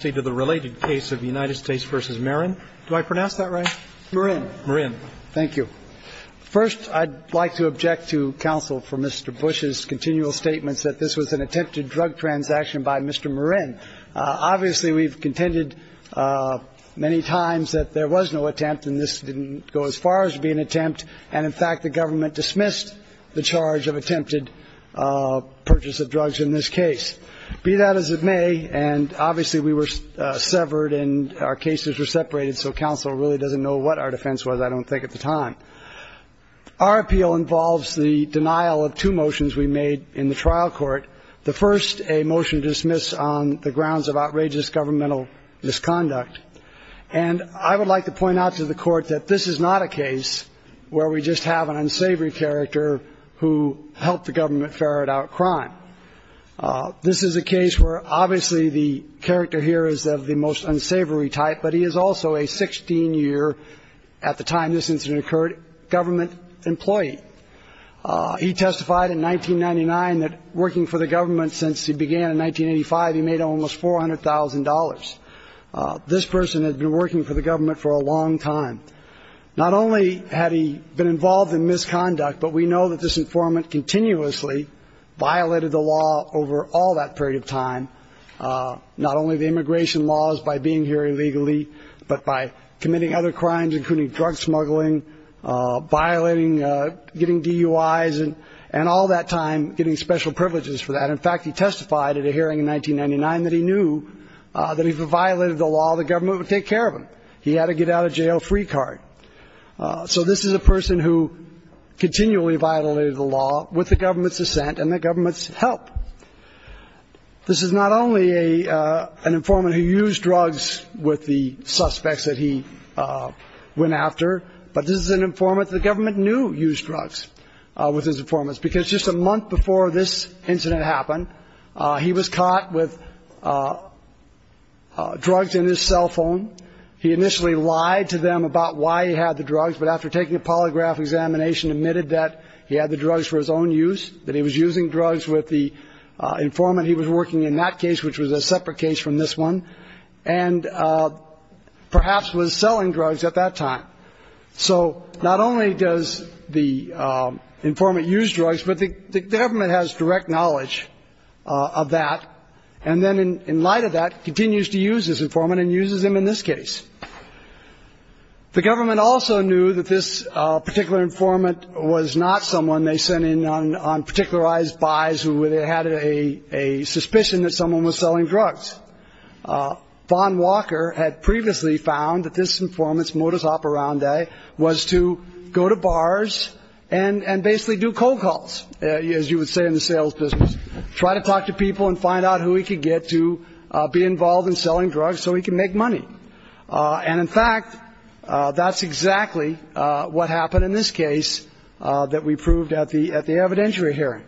to the related case of United States v. Marin. Do I pronounce that right? Marin. Marin. Thank you. First, I'd like to object to counsel for Mr. Bush's continual statements that this was an attempted drug transaction by Mr. Marin. Obviously, we've contended many times that there was no attempt and this didn't go as far as being an attempt. And, in fact, the government dismissed the charge of attempted purchase of drugs in this case. Be that as it may, and obviously we were severed and our cases were separated, so counsel really doesn't know what our defense was, I don't think, at the time. Our appeal involves the denial of two motions we made in the trial court. The first, a motion to dismiss on the grounds of outrageous governmental misconduct. And I would like to point out to the court that this is not a case where we just have an unsavory character who helped the government ferret out crime. This is a case where obviously the character here is of the most unsavory type, but he is also a 16-year, at the time this incident occurred, government employee. He testified in 1999 that working for the government since he began in 1985, he made almost $400,000. This person had been working for the government for a long time. Not only had he been involved in misconduct, but we know that this informant continuously violated the law over all that period of time, not only the immigration laws by being here illegally, but by committing other crimes, including drug smuggling, violating getting DUIs and all that time getting special privileges for that. In fact, he testified at a hearing in 1999 that he knew that if he violated the law, the government would take care of him. He had to get out of jail free card. So this is a person who continually violated the law with the government's assent and the government's help. This is not only an informant who used drugs with the suspects that he went after, but this is an informant the government knew used drugs with his informants, because just a month before this incident happened, he was caught with drugs in his cell phone. He initially lied to them about why he had the drugs, but after taking a polygraph examination admitted that he had the drugs for his own use, that he was using drugs with the informant he was working in that case, which was a separate case from this one, and perhaps was selling drugs at that time. So not only does the informant use drugs, but the government has direct knowledge of that, and then in light of that, continues to use this informant and uses him in this case. The government also knew that this particular informant was not someone they sent in on particularized buys who had a suspicion that someone was selling drugs. Vaughn Walker had previously found that this informant's modus operandi was to go to bars and basically do cold calls, as you would say in the sales business, try to talk to people and find out who he could get to be involved in selling drugs so he could make money. And in fact, that's exactly what happened in this case that we proved at the evidentiary hearing.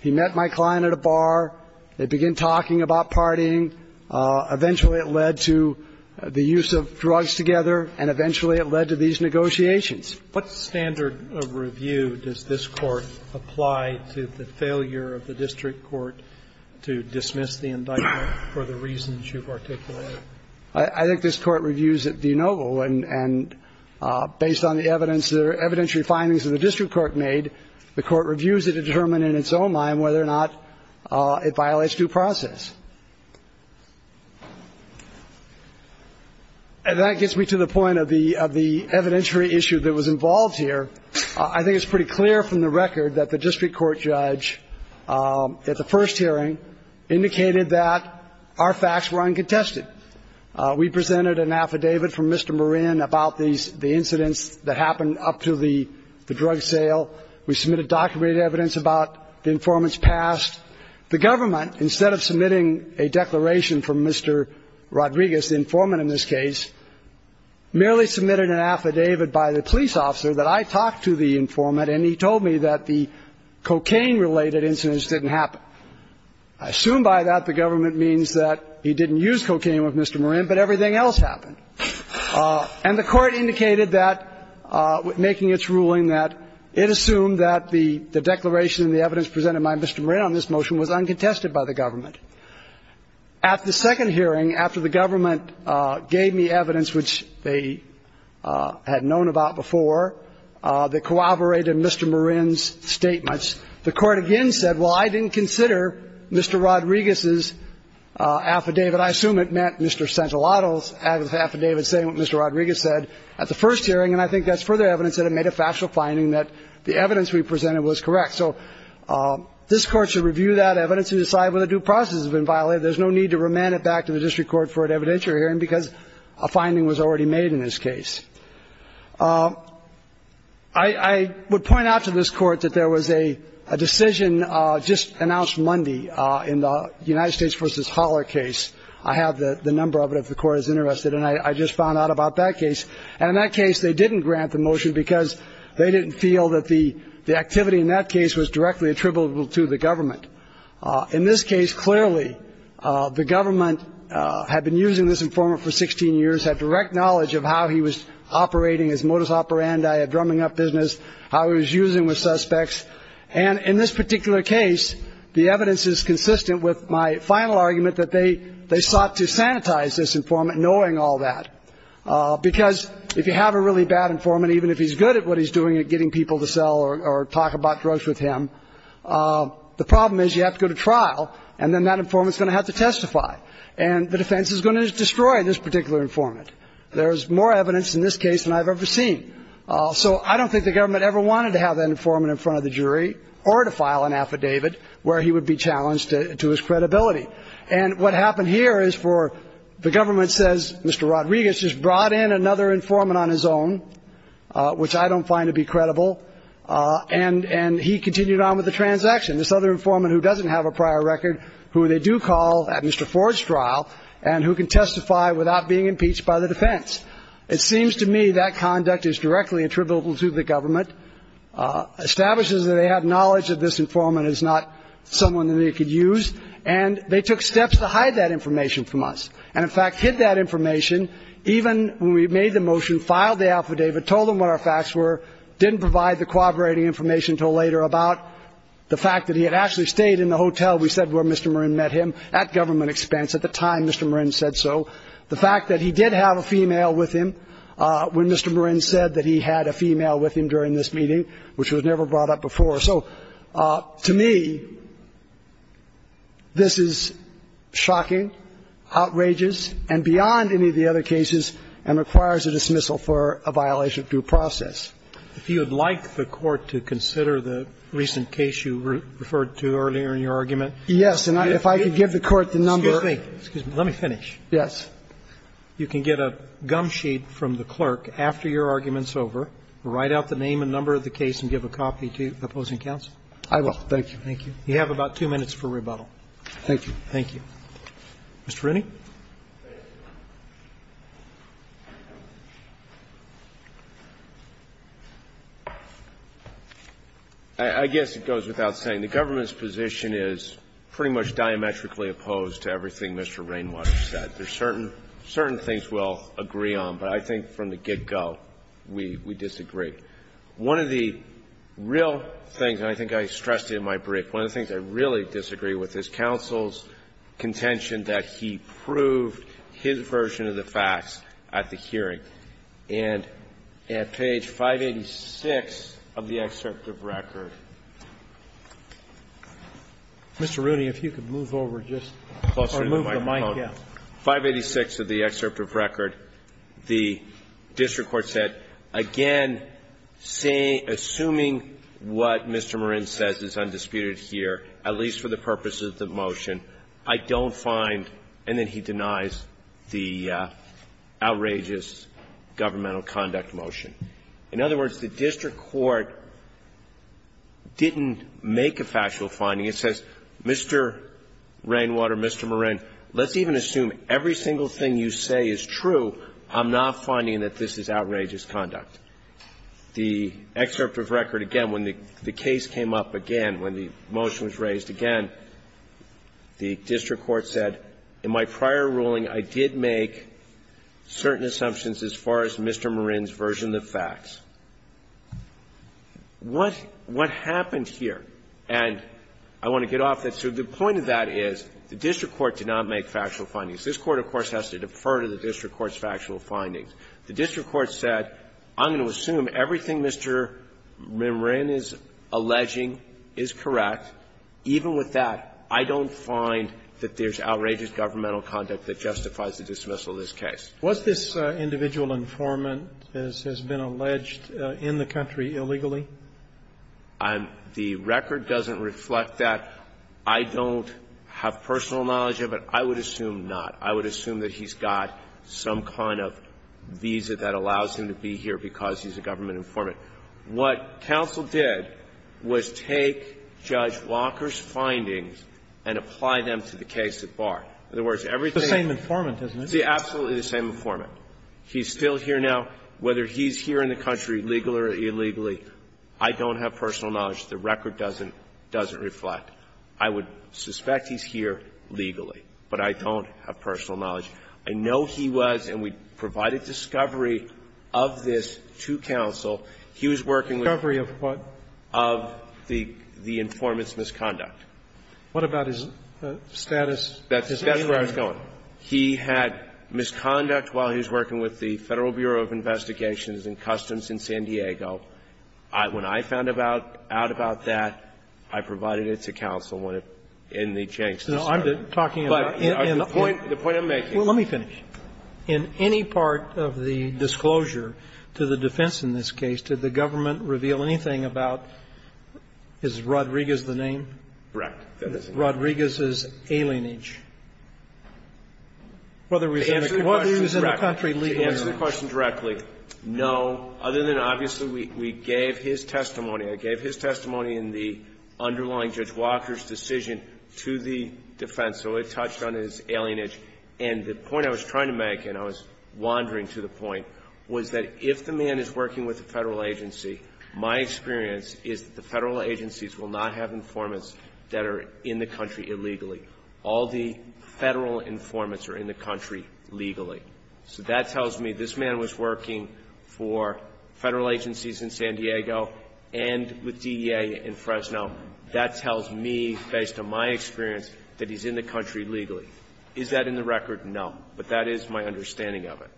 He met my client at a bar. They began talking about partying. Eventually it led to the use of drugs together, and eventually it led to these negotiations. What standard of review does this Court apply to the failure of the district court to dismiss the indictment for the reasons you've articulated? I think this Court reviews it de novo. And based on the evidence, the evidentiary findings of the district court made, the Court reviews it to determine in its own mind whether or not it violates due process. And that gets me to the point of the evidentiary issue that was involved here. I think it's pretty clear from the record that the district court judge at the first hearing indicated that our facts were uncontested. We presented an affidavit from Mr. Marin about the incidents that happened up to the drug sale. We submitted documented evidence about the informant's past. The government, instead of submitting a declaration from Mr. Rodriguez, the informant in this case, merely submitted an affidavit by the police officer that I talked to the informant and he told me that the cocaine-related incidents didn't happen. I assume by that the government means that he didn't use cocaine with Mr. Marin, but everything else happened. And the Court indicated that, making its ruling, that it assumed that the declaration and the evidence presented by Mr. Marin on this motion was uncontested by the government. At the second hearing, after the government gave me evidence, which they had known about before, that corroborated Mr. Marin's statements, the Court again said, well, I didn't consider Mr. Rodriguez's affidavit. I assume it meant Mr. Santolato's affidavit saying what Mr. Rodriguez said at the first hearing, and I think that's further evidence that it made a factual finding that the evidence we presented was correct. So this Court should review that evidence and decide whether due process has been violated. There's no need to remand it back to the district court for an evidentiary hearing because a finding was already made in this case. I would point out to this Court that there was a decision just announced Monday in the United States v. Hauler case. I have the number of it if the Court is interested, and I just found out about that case. And in that case, they didn't grant the motion because they didn't feel that the activity in that case was directly attributable to the government. In this case, clearly, the government had been using this informant for 16 years, had direct knowledge of how he was operating his modus operandi of drumming up business, how he was using with suspects. And in this particular case, the evidence is consistent with my final argument that they sought to sanitize this informant, knowing all that. Because if you have a really bad informant, even if he's good at what he's doing at getting people to sell or talk about drugs with him, the problem is you have to go to trial, and then that informant is going to have to testify. And the defense is going to destroy this particular informant. There is more evidence in this case than I've ever seen. So I don't think the government ever wanted to have that informant in front of the jury or to file an affidavit where he would be challenged to his credibility. And what happened here is for the government says Mr. Rodriguez just brought in another informant on his own, which I don't find to be credible, and he continued on with the transaction, this other informant who doesn't have a prior record, who they do call at Mr. Ford's trial and who can testify without being impeached by the defense. It seems to me that conduct is directly attributable to the government, establishes that they have knowledge that this informant is not someone that they could use, and they took steps to hide that information from us and, in fact, hid that information, even when we made the motion, filed the affidavit, told them what our facts were, didn't provide the corroborating information until later about the fact that he had actually stayed in the hotel, we said, where Mr. Marin met him at government expense. At the time, Mr. Marin said so. The fact that he did have a female with him when Mr. Marin said that he had a female with him during this meeting, which was never brought up before. So to me, this is shocking, outrageous, and beyond any of the other cases and requires a dismissal for a violation of due process. If you would like the Court to consider the recent case you referred to earlier in your argument. Yes. And if I could give the Court the number. Excuse me. Yes. You can get a gum sheet from the clerk after your argument's over, write out the name and number of the case, and give a copy to opposing counsel. I will. Thank you. Thank you. You have about two minutes for rebuttal. Thank you. Thank you. Mr. Rooney. I guess it goes without saying. The government's position is pretty much diametrically opposed to everything Mr. Rainwater said. There's certain things we'll agree on, but I think from the get-go, we disagree. One of the real things, and I think I stressed it in my brief, one of the things I really disagree with is counsel's contention that he proved his version of the facts at the hearing, and at page 586 of the excerpt of record. Mr. Rooney, if you could move over just closer to the microphone. Yes. Page 586 of the excerpt of record, the district court said, again, assuming what Mr. Marin says is undisputed here, at least for the purposes of the motion, I don't find, and then he denies, the outrageous governmental conduct motion. In other words, the district court didn't make a factual finding. It says, Mr. Rainwater, Mr. Marin, let's even assume every single thing you say is true, I'm not finding that this is outrageous conduct. The excerpt of record, again, when the case came up again, when the motion was raised again, the district court said, in my prior ruling, I did make certain assumptions as far as Mr. Marin's version of the facts. What happened here? And I want to get off that. So the point of that is the district court did not make factual findings. This Court, of course, has to defer to the district court's factual findings. The district court said, I'm going to assume everything Mr. Marin is alleging is correct. Even with that, I don't find that there's outrageous governmental conduct that justifies the dismissal of this case. Was this individual informant, as has been alleged, in the country illegally? I'm the record doesn't reflect that. I don't have personal knowledge of it. I would assume not. I would assume that he's got some kind of visa that allows him to be here because he's a government informant. What counsel did was take Judge Walker's findings and apply them to the case at bar. In other words, everything. The same informant, isn't it? It's absolutely the same informant. He's still here now. Whether he's here in the country legally or illegally, I don't have personal knowledge. The record doesn't reflect. I would suspect he's here legally, but I don't have personal knowledge. I know he was, and we provided discovery of this to counsel. He was working with the informant's misconduct. What about his status? That's where I was going. He had misconduct while he was working with the Federal Bureau of Investigations and Customs in San Diego. When I found out about that, I provided it to counsel in the Jenks. No, I'm talking about in the point I'm making. Well, let me finish. In any part of the disclosure to the defense in this case, did the government reveal anything about is Rodriguez the name? Correct. Rodriguez's alienage. Whether he was in the country legally or not. To answer the question directly, no. Other than obviously we gave his testimony. I gave his testimony in the underlying Judge Walker's decision to the defense. So it touched on his alienage. And the point I was trying to make, and I was wandering to the point, was that if the man is working with the Federal agency, my experience is that the Federal agencies will not have informants that are in the country illegally. All the Federal informants are in the country legally. So that tells me this man was working for Federal agencies in San Diego and with DEA in Fresno. That tells me, based on my experience, that he's in the country legally. Is that in the record? But that is my understanding of it.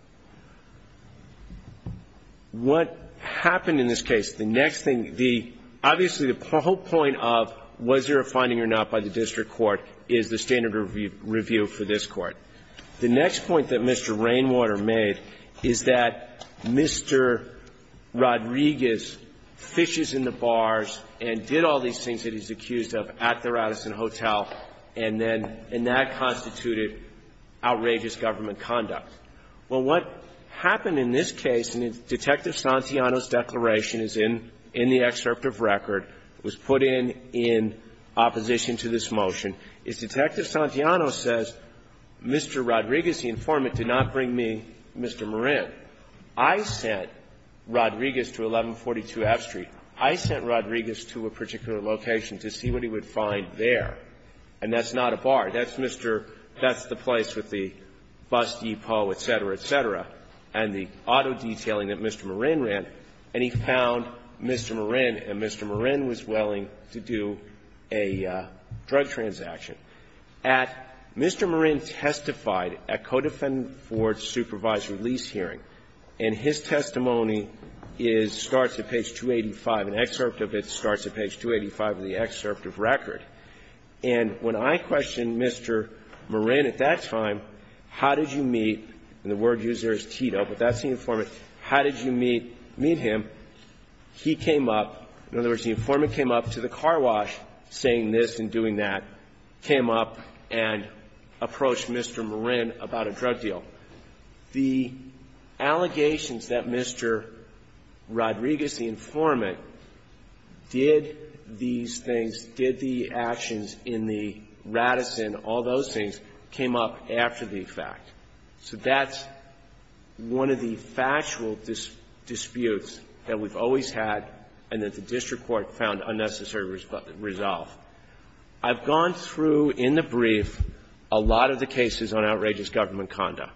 What happened in this case? The next thing, the, obviously the whole point of was there a finding or not by the district court is the standard review for this Court. The next point that Mr. Rainwater made is that Mr. Rodriguez fishes in the bars and did all these things that he's accused of at the Radisson Hotel and then, and that constituted outrageous government conduct. Well, what happened in this case, and Detective Santiano's declaration is in the excerpt of record, was put in in opposition to this motion, is Detective Santiano says, Mr. Rodriguez, the informant, did not bring me Mr. Marin. I sent Rodriguez to 1142 F Street. I sent Rodriguez to a particular location to see what he would find there. And that's not a bar. That's Mr. That's the place with the bus depot, et cetera, et cetera, and the auto detailing that Mr. Marin ran, and he found Mr. Marin, and Mr. Marin was willing to do a drug transaction. At Mr. Marin testified at Codefendant Ford's supervised release hearing, and his testimony is, starts at page 285, an excerpt of it starts at page 285 of the excerpt of record. And when I questioned Mr. Marin at that time, how did you meet, and the word used there is tito, but that's the informant, how did you meet, meet him, he came up, in other words, the informant came up to the car wash saying this and doing that, came up and approached Mr. Marin about a drug deal. The allegations that Mr. Rodriguez, the informant, did these things, did the allegations in the actions in the Radisson, all those things, came up after the fact. So that's one of the factual disputes that we've always had and that the district court found unnecessary resolve. I've gone through in the brief a lot of the cases on outrageous government conduct,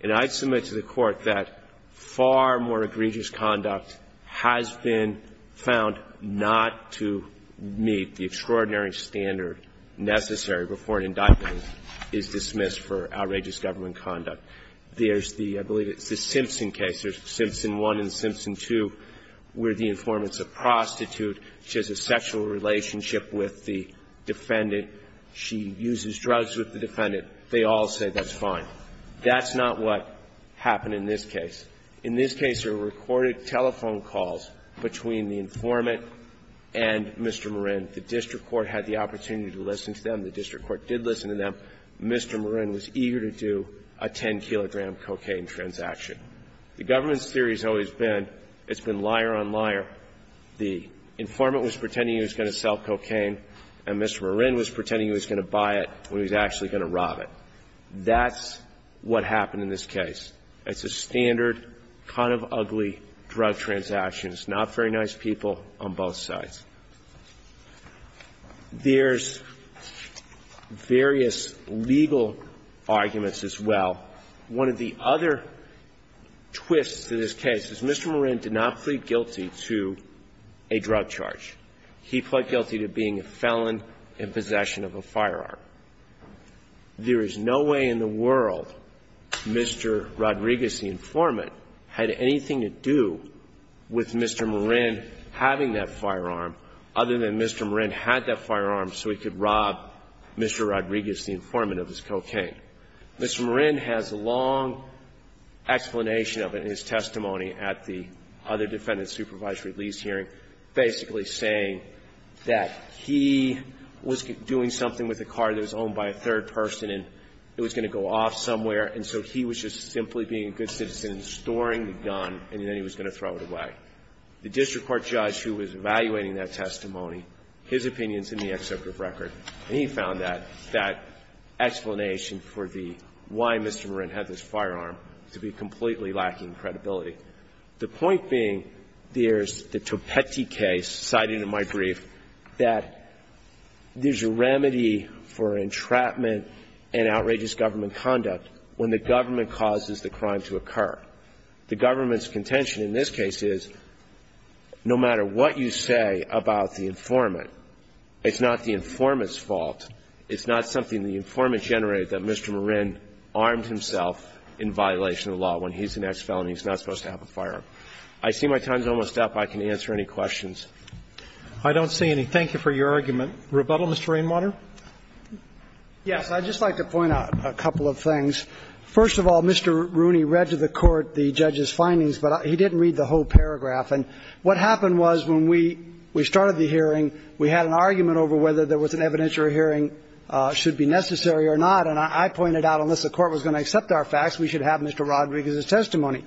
and I submit to the Court that far more egregious conduct has been found not to meet the extraordinary standard necessary before an indictment is dismissed for outrageous government conduct. There's the, I believe it's the Simpson case, there's Simpson 1 and Simpson 2, where the informant's a prostitute. She has a sexual relationship with the defendant. She uses drugs with the defendant. They all say that's fine. That's not what happened in this case. In this case, there were recorded telephone calls between the informant and Mr. Marin. The district court had the opportunity to listen to them. The district court did listen to them. Mr. Marin was eager to do a 10-kilogram cocaine transaction. The government's theory has always been it's been liar on liar. The informant was pretending he was going to sell cocaine, and Mr. Marin was pretending he was going to buy it when he was actually going to rob it. That's what happened in this case. It's a standard kind of ugly drug transaction. It's not very nice people on both sides. There's various legal arguments as well. One of the other twists to this case is Mr. Marin did not plead guilty to a drug charge. He pled guilty to being a felon in possession of a firearm. There is no way in the world Mr. Rodriguez, the informant, had anything to do with Mr. Marin having that firearm other than Mr. Marin had that firearm so he could rob Mr. Rodriguez, the informant, of his cocaine. Mr. Marin has a long explanation of it in his testimony at the other defendant's supervised release hearing, basically saying that he was doing something with a car that was owned by a third person and it was going to go off somewhere. And so he was just simply being a good citizen and storing the gun, and then he was going to throw it away. The district court judge who was evaluating that testimony, his opinion is in the excerpt of record. And he found that, that explanation for the why Mr. Marin had this firearm to be completely lacking credibility. The point being, there's the Topetti case cited in my brief that there's a remedy for entrapment and outrageous government conduct when the government causes the crime to occur. The government's contention in this case is, no matter what you say about the informant, it's not the informant's fault, it's not something the informant generated, that Mr. Marin armed himself in violation of the law when he's the next felon, he's not supposed to have a firearm. I see my time is almost up. I can answer any questions. Roberts. I don't see any. Thank you for your argument. Rebuttal, Mr. Rainwater. Yes. I'd just like to point out a couple of things. First of all, Mr. Rooney read to the Court the judge's findings, but he didn't read the whole paragraph. And what happened was, when we started the hearing, we had an argument over whether there was an evidentiary hearing should be necessary or not. And I pointed out, unless the Court was going to accept our facts, we should have Mr. Rodriguez's testimony.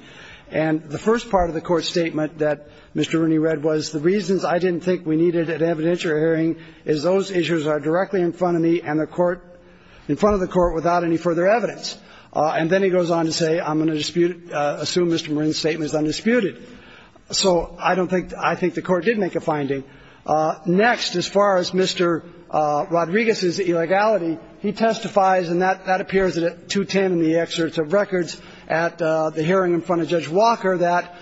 And the first part of the Court's statement that Mr. Rooney read was, the reasons I didn't think we needed an evidentiary hearing is those issues are directly in front of me and the Court, in front of the Court, without any further evidence. And then he goes on to say, I'm going to dispute, assume Mr. Marin's statement is undisputed. So I don't think, I think the Court did make a finding. Next, as far as Mr. Rodriguez's illegality, he testifies, and that appears at 210 in the excerpts of records at the hearing in front of Judge Walker, that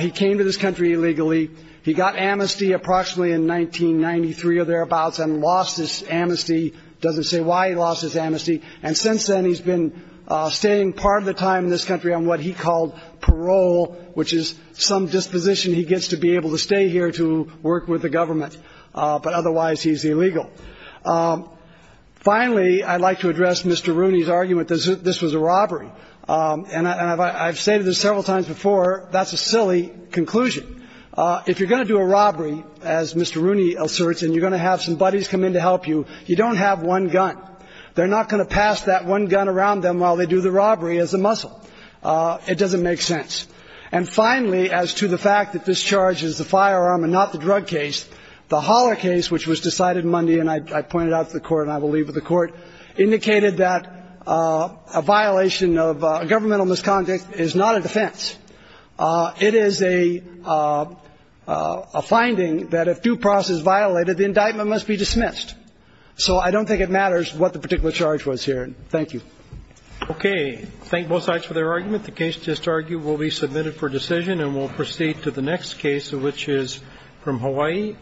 he came to this country illegally. He got amnesty approximately in 1993 or thereabouts and lost his amnesty. It doesn't say why he lost his amnesty. And since then, he's been staying part of the time in this country on what he called parole, which is some disposition he gets to be able to stay here to work with the government, but otherwise he's illegal. Finally, I'd like to address Mr. Rooney's argument that this was a robbery. And I've stated this several times before. That's a silly conclusion. If you're going to do a robbery, as Mr. Rooney asserts, and you're going to have some buddies come in to help you, you don't have one gun. They're not going to pass that one gun around them while they do the robbery as a muscle. It doesn't make sense. And finally, as to the fact that this charge is the firearm and not the drug case, the Holler case, which was decided Monday and I pointed out to the Court and I will leave it to the Court, indicated that a violation of governmental misconduct is not a defense. It is a finding that if due process is violated, the indictment must be dismissed. So I don't think it matters what the particular charge was here. Thank you. Okay. Thank both sides for their argument. The case just argued will be submitted for decision. And we'll proceed to the next case, which is from Hawaii.